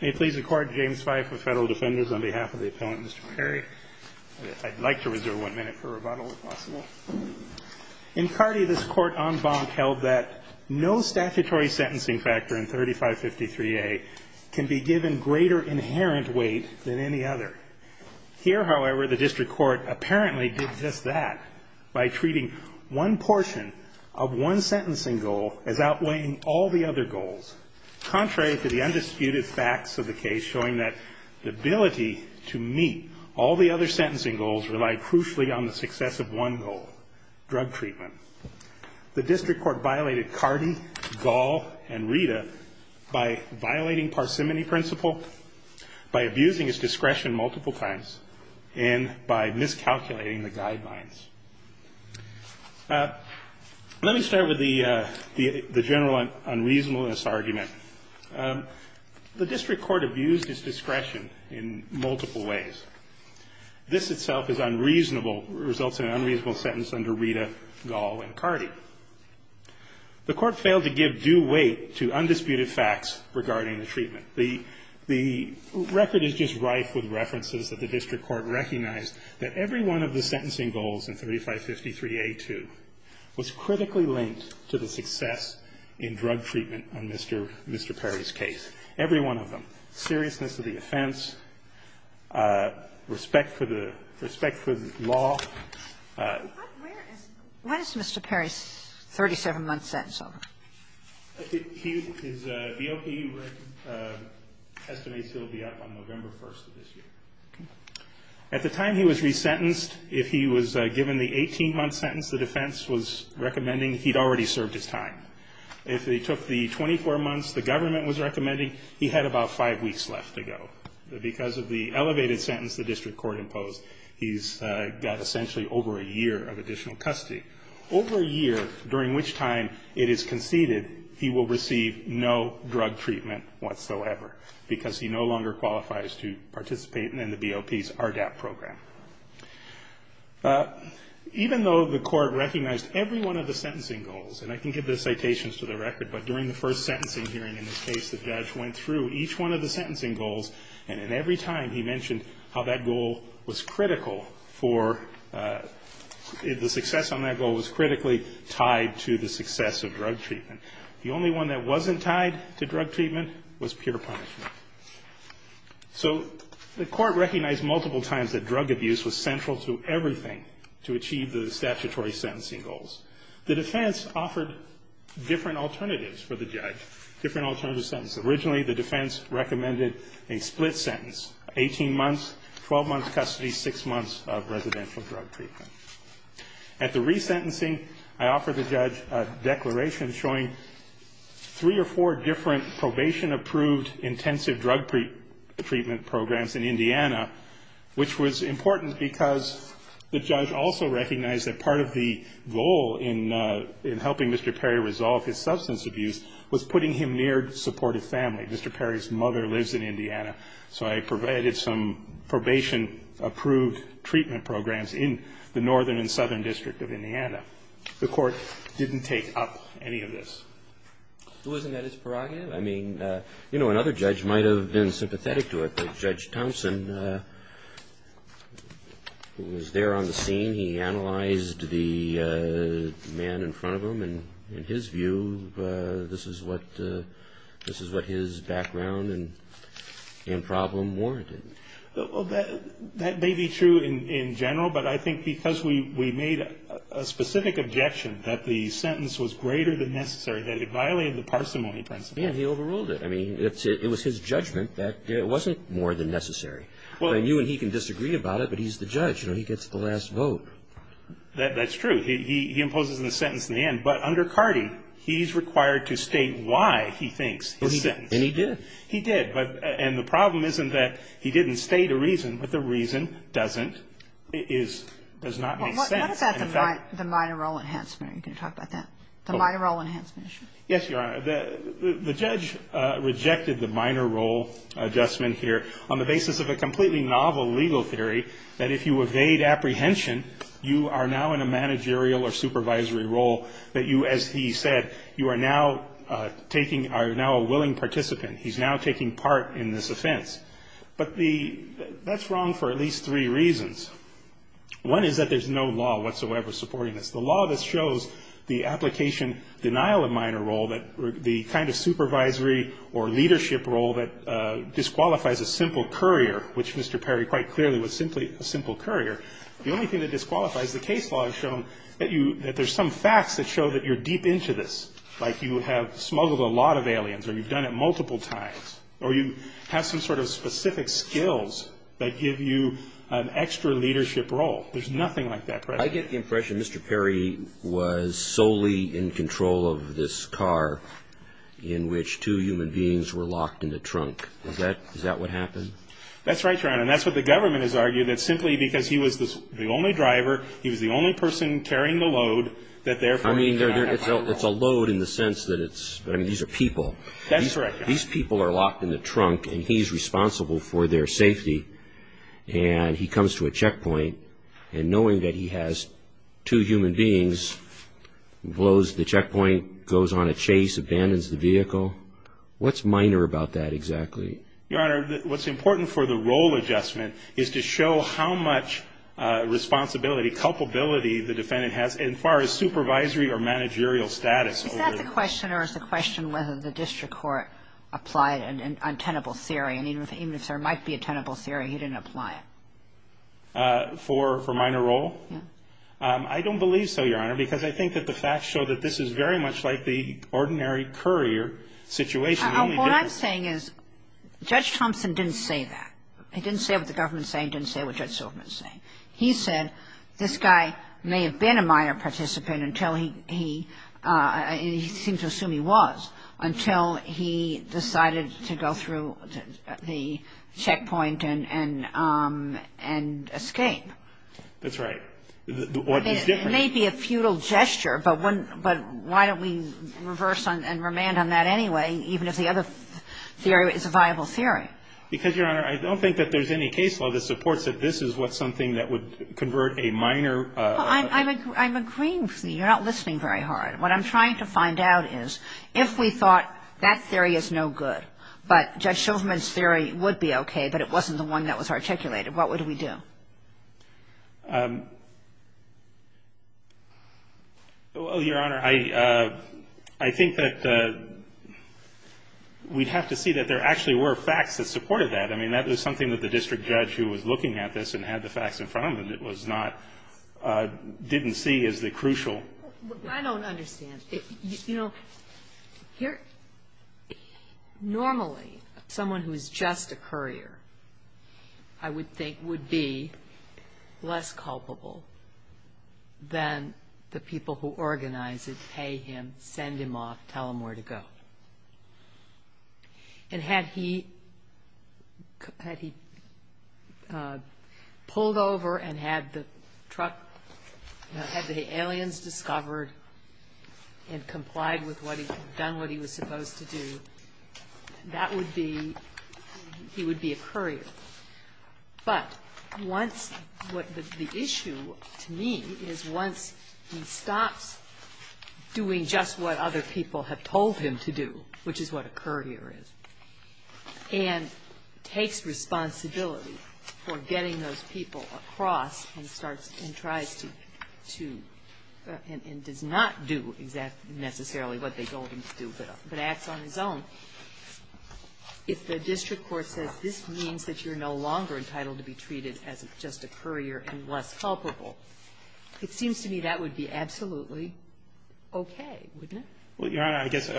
May it please the Court, James Fife of Federal Defenders, on behalf of the Appellant, Mr. Perry, I'd like to reserve one minute for rebuttal, if possible. In Carty, this Court, en banc, held that no statutory sentencing factor in 3553A can be given greater inherent weight than any other. Here, however, the District Court apparently did just that by treating one portion of one sentencing goal as outweighing all the other goals. Contrary to the undisputed facts of the case showing that the ability to meet all the other sentencing goals relied crucially on the success of one goal, drug treatment. The District Court violated Carty, Gall, and Rita by violating parsimony principle, by abusing its discretion multiple times, and by miscalculating the guidelines. Let me start with the general unreasonableness argument. The District Court abused its discretion in multiple ways. This itself is unreasonable, results in an unreasonable sentence under Rita, Gall, and Carty. The Court failed to give due weight to undisputed facts regarding the treatment. The record is just rife with references that the District Court recognized that every one of the sentencing goals in 3553A2 was critically linked to the success in drug treatment on Mr. Perry's case, every one of them. Seriousness of the offense, respect for the law. Sotomayor, when is Mr. Perry's 37-month sentence over? His BOP estimates he'll be up on November 1st of this year. At the time he was resentenced, if he was given the 18-month sentence the defense was recommending, he'd already served his time. If he took the 24 months the government was recommending, he had about five weeks left to go. Because of the elevated sentence the District Court imposed, he's got essentially over a year of additional custody. Over a year, during which time it is conceded, he will receive no drug treatment whatsoever. Because he no longer qualifies to participate in the BOP's RDAP program. Even though the Court recognized every one of the sentencing goals, and I can give the citations to the record, but during the first sentencing hearing in this case the judge went through each one of the sentencing goals, and at every time he mentioned how that goal was critical for the success on that goal was critically tied to the success of drug treatment. The only one that wasn't tied to drug treatment was pure punishment. So the Court recognized multiple times that drug abuse was central to everything to achieve the statutory sentencing goals. The defense offered different alternatives for the judge, different alternative sentences. Originally the defense recommended a split sentence, 18 months, 12 months custody, 6 months of residential drug treatment. At the resentencing, I offered the judge a declaration showing three or four different probation-approved intensive drug treatment programs in Indiana, which was important because the judge also recognized that part of the goal in helping Mr. Perry resolve his family. Mr. Perry's mother lives in Indiana, so I provided some probation-approved treatment programs in the northern and southern district of Indiana. The Court didn't take up any of this. Who isn't at his prerogative? I mean, you know, another judge might have been sympathetic to it, but Judge Thompson, who was there on the scene, he analyzed the man in front of him, and in his view, this is what he was doing. This is what his background and problem warranted. Well, that may be true in general, but I think because we made a specific objection that the sentence was greater than necessary, that it violated the parsimony principle. And he overruled it. I mean, it was his judgment that it wasn't more than necessary. I mean, you and he can disagree about it, but he's the judge. You know, he gets the last vote. That's true. He imposes the sentence in the end. But under Cardi, he's required to state why he thinks his sentence. And he did. He did. And the problem isn't that he didn't state a reason, but the reason doesn't, does not make sense. What about the minor role enhancement? Are you going to talk about that, the minor role enhancement issue? Yes, Your Honor. The judge rejected the minor role adjustment here on the basis of a completely novel legal theory that if you evade apprehension, you are now in a managerial or supervisory role, that you, as he said, you are now taking or are now a willing participant. He's now taking part in this offense. But that's wrong for at least three reasons. One is that there's no law whatsoever supporting this. And the other is that there's no law that supports this. And the only thing that disqualifies the minor role, the kind of supervisory or leadership role that disqualifies a simple courier, which Mr. Perry quite clearly was simply a simple courier, the only thing that disqualifies the case law is shown that there's some facts that show that you're deep into this, like you have smuggled a lot of aliens, or you've done it multiple times, or you have some sort of car in which two human beings were locked in the trunk. Is that what happened? That's right, Your Honor. And that's what the government has argued, that simply because he was the only driver, he was the only person carrying the load, that therefore... I mean, it's a load in the sense that it's, I mean, these are people. That's correct, Your Honor. And the fact that the case abandons the vehicle, what's minor about that exactly? Your Honor, what's important for the role adjustment is to show how much responsibility, culpability the defendant has in far as supervisory or managerial status. Is that the question, or is the question whether the district court applied an untenable theory? I mean, even if there might be a tenable theory, he didn't apply it. For minor role? I don't believe so, Your Honor, because I think that the facts show that this is very much like the ordinary courier situation. What I'm saying is, Judge Thompson didn't say that. He didn't say what the government is saying. He didn't say what Judge Silverman is saying. He said, this guy may have been a minor participant until he, he seemed to assume he was, until he decided to go through the checkpoint and escape. That's right. It may be a futile gesture, but why don't we reverse and remand on that anyway, even if the other theory is a viable theory? Because, Your Honor, I don't think that there's any case law that supports that this is what's something that would convert a minor. I'm agreeing with you. You're not listening very hard. What I'm trying to find out is, if we thought that theory is no good, but Judge Silverman's theory would be okay, but it wasn't the one that was articulated, what would we do? Well, Your Honor, I, I think that we'd have to see that there actually were facts that supported that. I mean, that was something that the district judge who was looking at this and had the facts in front of him, it was not, didn't see as the crucial. I don't understand. You know, here, normally, someone who is just a minor participant or just a courier, I would think, would be less culpable than the people who organize it, pay him, send him off, tell him where to go. And had he, had he pulled over and had the truck, had the aliens discovered and complied with what he, done what he was supposed to do, that would be, he would be a courier. But once, what the issue to me is once he stops doing just what other people have told him to do, which is what a courier is, and takes responsibility for getting those people across and starts and tries to, to, and does not do exactly, necessarily what they told him to do, but acts on his own, if the district court says this means that you're no longer entitled to be treated as just a courier and less culpable, it seems to me that would be absolutely okay, wouldn't it? Well, Your Honor, I guess,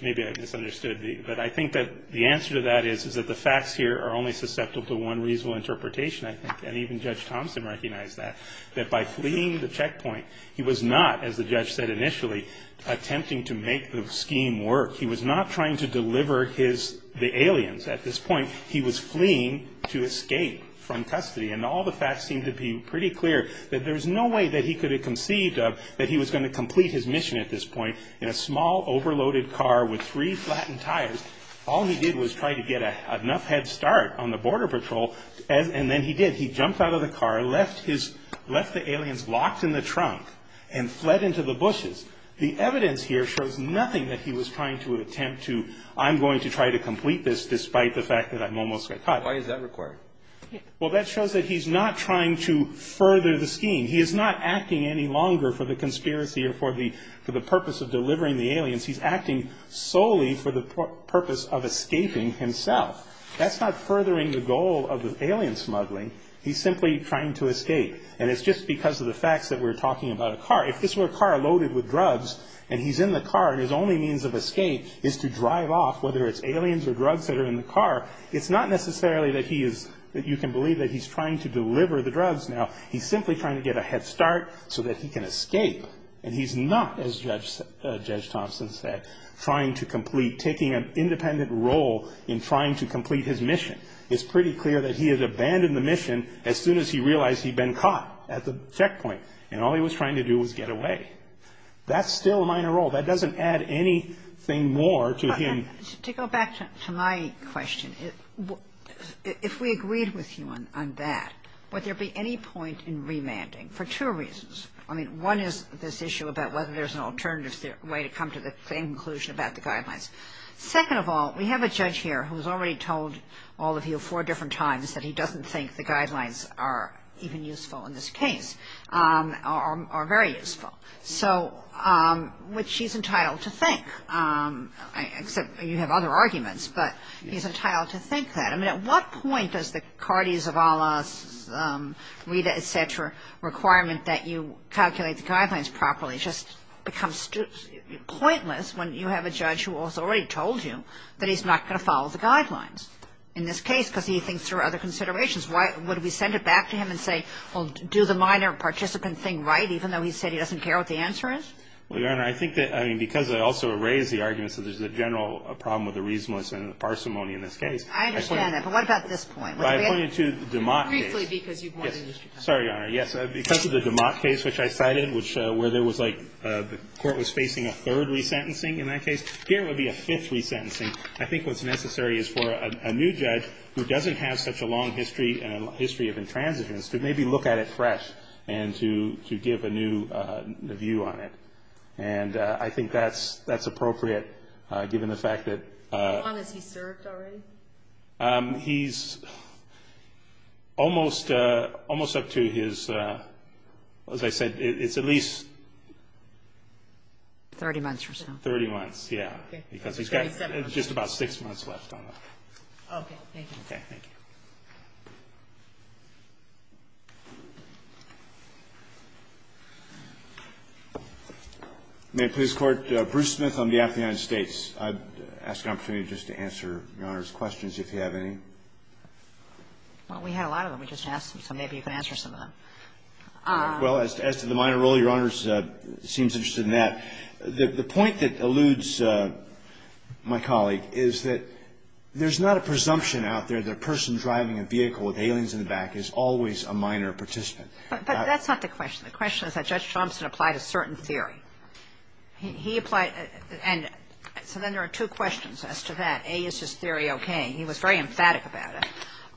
maybe I misunderstood, but I think that the answer to that is, is that the facts here are only susceptible to one reasonable interpretation, I think, and even Judge Thompson recognized that, that by fleeing the checkpoint, he was not, as the judge said initially, attempting to make the scheme work. He was not trying to deliver his, the aliens. At this point, he was fleeing to escape from custody, and all the facts seem to be pretty clear that there's no way that he could have conceived of that he was going to complete his mission at this point in a small, overloaded car with three flattened tires. All he did was try to get a, enough head start on the border patrol, and then he did. He jumped out of the car, left his, left the aliens locked in the trunk, and fled into the bushes. The evidence here shows nothing that he was trying to attempt to, I'm going to try to complete this, despite the fact that I'm almost caught. Why is that required? Well, that shows that he's not trying to further the scheme. He is not acting any longer for the conspiracy or for the, for the purpose of delivering the aliens. He's acting solely for the purpose of escaping himself. That's not furthering the goal of the alien smuggling. He's simply trying to escape. And it's just because of the facts that we're talking about a car. If this were a car loaded with drugs, and he's in the car, and his only means of escape is to drive off, whether it's aliens or drugs that are in the car, it's not necessarily that he is, that you can believe that he's trying to deliver the drugs now. He's simply trying to get a head start so that he can escape. And he's not, as Judge Thompson said, trying to complete, taking an independent role in trying to complete his mission. It's pretty clear that he had abandoned the mission as soon as he realized he'd been caught at the checkpoint. And all he was trying to do was get away. That's still a minor role. That doesn't add anything more to him. To go back to my question, if we agreed with you on that, would there be any point in remanding? For two reasons. I mean, one is this issue about whether there's an alternative way to come to the same conclusion about the guidelines. Second of all, we have a judge here who's already told all of you four different times that he doesn't think the guidelines are even useful in this case, are very useful. So, which he's entitled to think, except you have other arguments. But he's entitled to think that. I mean, at what point does the Cardi Zavala, Rita, et cetera, requirement that you calculate the guidelines properly just become pointless when you have a judge who has already told you that he's not going to follow the guidelines in this case because he thinks there are other considerations? Why would we send it back to him and say, well, do the minor participant thing right, even though he said he doesn't care what the answer is? Well, Your Honor, I think that, I mean, because I also raised the argument that there's a general problem with the reasonableness and the parsimony in this case. I understand that. But what about this point? Well, I pointed to the DeMott case. Briefly, because you've won the district court. Sorry, Your Honor. Yes, because of the DeMott case, which I cited, where there was like the court was facing a third resentencing in that case. Here it would be a fifth resentencing. I think what's necessary is for a new judge who doesn't have such a long history and a history of intransigence to maybe look at it fresh and to give a new view on it. And I think that's appropriate, given the fact that. How long has he served already? He's almost up to his, as I said, it's at least. Thirty months or so. Thirty months, yes. Okay. Because he's got just about six months left on that. Okay. Thank you. Thank you. May it please the Court? Bruce Smith on behalf of the United States. I'd ask an opportunity just to answer Your Honor's questions, if you have any. Well, we had a lot of them. We just asked them, so maybe you can answer some of them. Well, as to the minor role, Your Honor seems interested in that. The point that alludes my colleague is that there's not a presumption out there that a person driving a vehicle is guilty of a crime. And that the person driving a vehicle with aliens in the back is always a minor participant. But that's not the question. The question is that Judge Thompson applied a certain theory. He applied and so then there are two questions as to that. A, is his theory okay? He was very emphatic about it.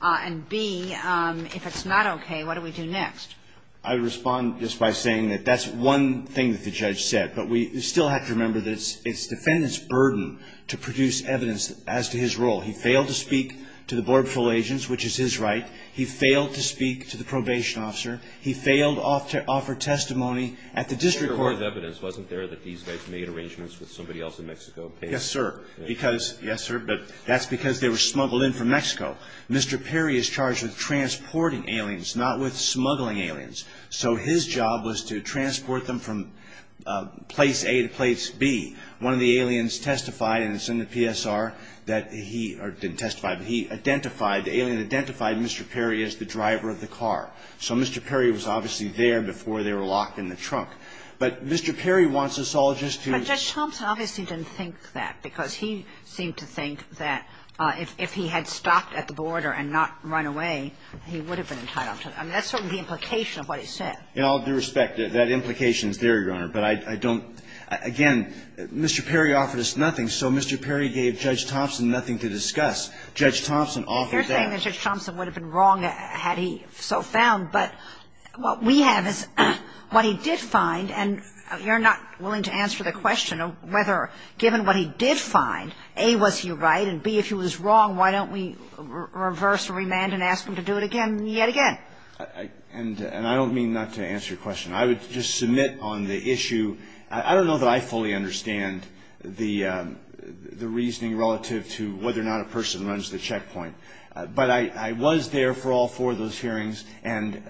And B, if it's not okay, what do we do next? I respond just by saying that that's one thing that the judge said. But we still have to remember that it's the defendant's burden to produce evidence as to his role. He failed to speak to the Border Patrol agents, which is his right. He failed to speak to the probation officer. He failed to offer testimony at the district court. But there was evidence, wasn't there, that these guys made arrangements with somebody else in Mexico? Yes, sir. Yes, sir, but that's because they were smuggled in from Mexico. Mr. Perry is charged with transporting aliens, not with smuggling aliens. So his job was to transport them from place A to place B. One of the aliens testified, and it's in the PSR that he or didn't testify, but he identified, the alien identified Mr. Perry as the driver of the car. So Mr. Perry was obviously there before they were locked in the trunk. But Mr. Perry wants us all just to ---- But Judge Thompson obviously didn't think that because he seemed to think that if he had stopped at the border and not run away, he would have been entitled to that. I mean, that's certainly the implication of what he said. In all due respect, that implication is there, Your Honor. But I don't ---- Again, Mr. Perry offered us nothing. So Mr. Perry gave Judge Thompson nothing to discuss. Judge Thompson offered that. You're saying that Judge Thompson would have been wrong had he so found. But what we have is what he did find, and you're not willing to answer the question of whether, given what he did find, A, was he right, and, B, if he was wrong, why don't we reverse remand and ask him to do it again and yet again? And I don't mean not to answer your question. I would just submit on the issue. I don't know that I fully understand the reasoning relative to whether or not a person runs the checkpoint. But I was there for all four of those hearings. And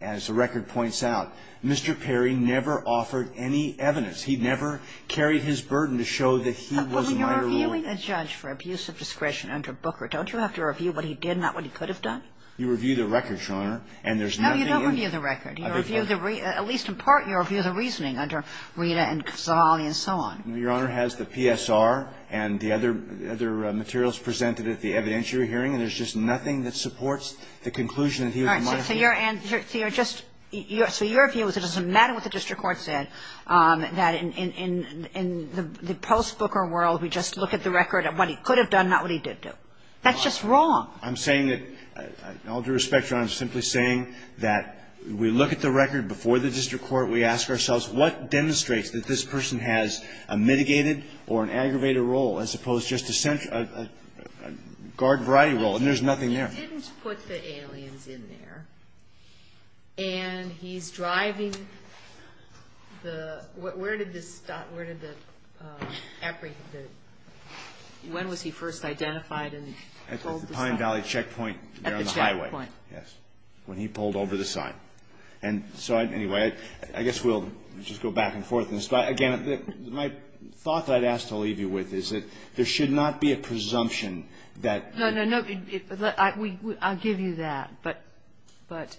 as the record points out, Mr. Perry never offered any evidence. He never carried his burden to show that he was a minor ruler. But when you're reviewing a judge for abuse of discretion under Booker, don't you have to review what he did, not what he could have done? You review the record, Your Honor. And there's nothing in ---- No, you don't review the record. You review the ---- at least in part, you review the reasoning under Rita and Casali and so on. Your Honor has the PSR and the other materials presented at the evidentiary hearing, and there's just nothing that supports the conclusion that he was a minor ruler. All right. So you're just ---- so your view is it doesn't matter what the district court said, that in the post-Booker world, we just look at the record of what he could have done, not what he did do. That's just wrong. I'm saying that, all due respect, Your Honor, I'm simply saying that we look at the record before the district court. We ask ourselves, what demonstrates that this person has a mitigated or an aggravated role, as opposed to just a guard variety role? And there's nothing there. He didn't put the aliens in there. And he's driving the ---- where did this stop? Where did the ---- when was he first identified and told the story? At the Pine Valley checkpoint there on the highway. At the checkpoint. Yes. When he pulled over the sign. And so, anyway, I guess we'll just go back and forth on this. But, again, my thought that I'd ask to leave you with is that there should not be a presumption that ---- No, no, no. I'll give you that. But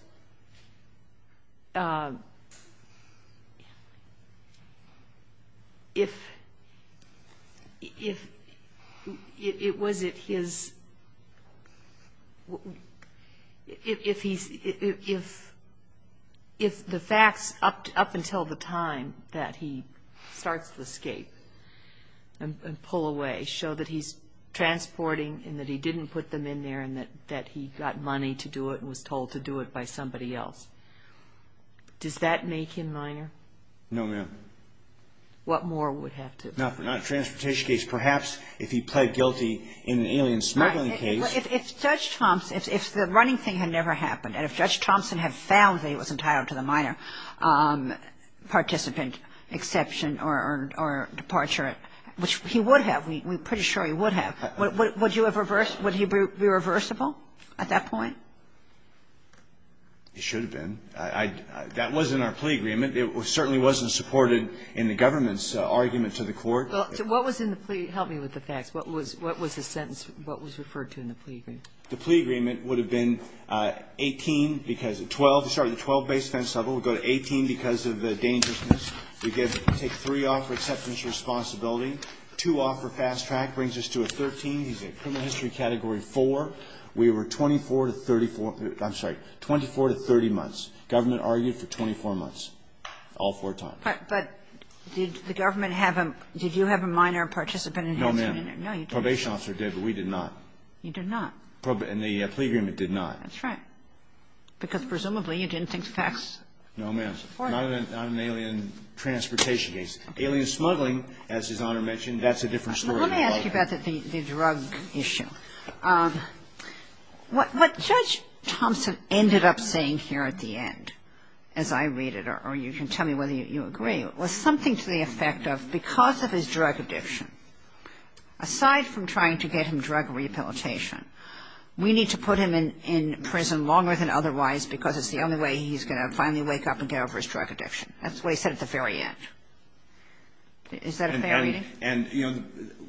if it was at his ---- if the facts up until the time that he starts to escape and pull away show that he's transporting and that he didn't put them in there and that he got money to do it and was told to do it by somebody else, does that make him No, ma'am. What more would have to be done? Not in a transportation case. Perhaps if he pled guilty in an alien smuggling case. If Judge Thompson, if the running thing had never happened and if Judge Thompson had found that he was entitled to the minor participant exception or departure, which he would have, we're pretty sure he would have, would you have reversed ---- would he be reversible at that point? He should have been. That wasn't our plea agreement. It certainly wasn't supported in the government's argument to the court. What was in the plea? Help me with the facts. What was the sentence? What was referred to in the plea agreement? The plea agreement would have been 18 because of 12. Sorry. The 12-base fence level would go to 18 because of the dangerousness. We get to take three off for acceptance of responsibility, two off for fast track, brings us to a 13. He's in criminal history category 4. We were 24 to 34 ---- I'm sorry, 24 to 30 months. Government argued for 24 months, all four times. But did the government have a ---- did you have a minor participant in ---- No, ma'am. No, you didn't. Probation officer did, but we did not. You did not. And the plea agreement did not. That's right. Because presumably you didn't think the facts ---- No, ma'am. I'm an alien transportation case. Alien smuggling, as His Honor mentioned, that's a different story. Let me ask you about the drug issue. What Judge Thompson ended up saying here at the end, as I read it, or you can tell me whether you agree, was something to the effect of because of his drug addiction, aside from trying to get him drug rehabilitation, we need to put him in prison longer than otherwise because it's the only way he's going to finally wake up and take care of his drug addiction. That's what he said at the very end. Is that a fair reading? And, you know,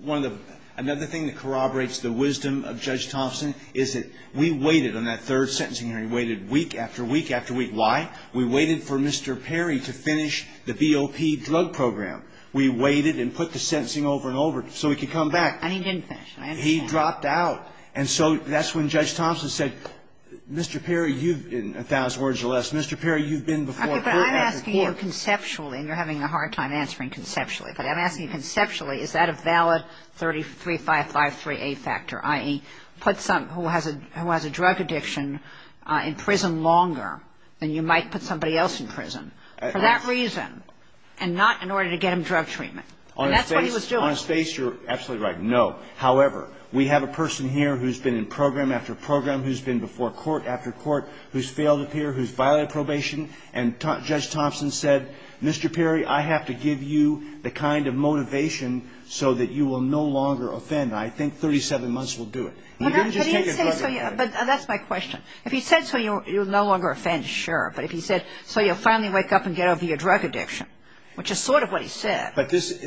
one of the ---- another thing that corroborates the wisdom of Judge Thompson is that we waited on that third sentencing hearing. We waited week after week after week. Why? We waited for Mr. Perry to finish the BOP drug program. We waited and put the sentencing over and over so he could come back. And he didn't finish. I understand. He dropped out. And so that's when Judge Thompson said, Mr. Perry, you've, in a thousand words or less, Mr. Perry, you've been before court after court. Okay, but I'm asking you conceptually, and you're having a hard time answering conceptually, but I'm asking you conceptually, is that a valid 3553A factor, i.e., put someone who has a drug addiction in prison longer than you might put somebody else in prison for that reason and not in order to get him drug treatment? And that's what he was doing. On his face, you're absolutely right, no. However, we have a person here who's been in program after program, who's been before court after court, who's failed to appear, who's violated probation. And Judge Thompson said, Mr. Perry, I have to give you the kind of motivation so that you will no longer offend. I think 37 months will do it. He didn't just take a drug addict. But that's my question. If he said so you'll no longer offend, sure. But if he said so you'll finally wake up and get over your drug addiction, which is sort of what he said. But this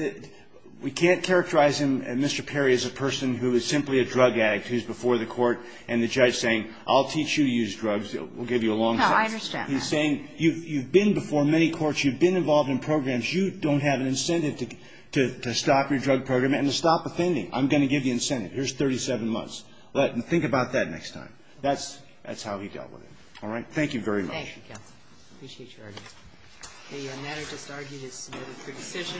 we can't characterize him, Mr. Perry, as a person who is simply a drug addict who's before the court and the judge saying, I'll teach you to use drugs. We'll give you a long sentence. No, I understand that. He's saying, you've been before many courts. You've been involved in programs. You don't have an incentive to stop your drug program and to stop offending. I'm going to give you incentive. Here's 37 months. Think about that next time. That's how he dealt with it. All right? Thank you very much. Thank you, counsel. Appreciate your argument. The matter just argued is submitted for decision.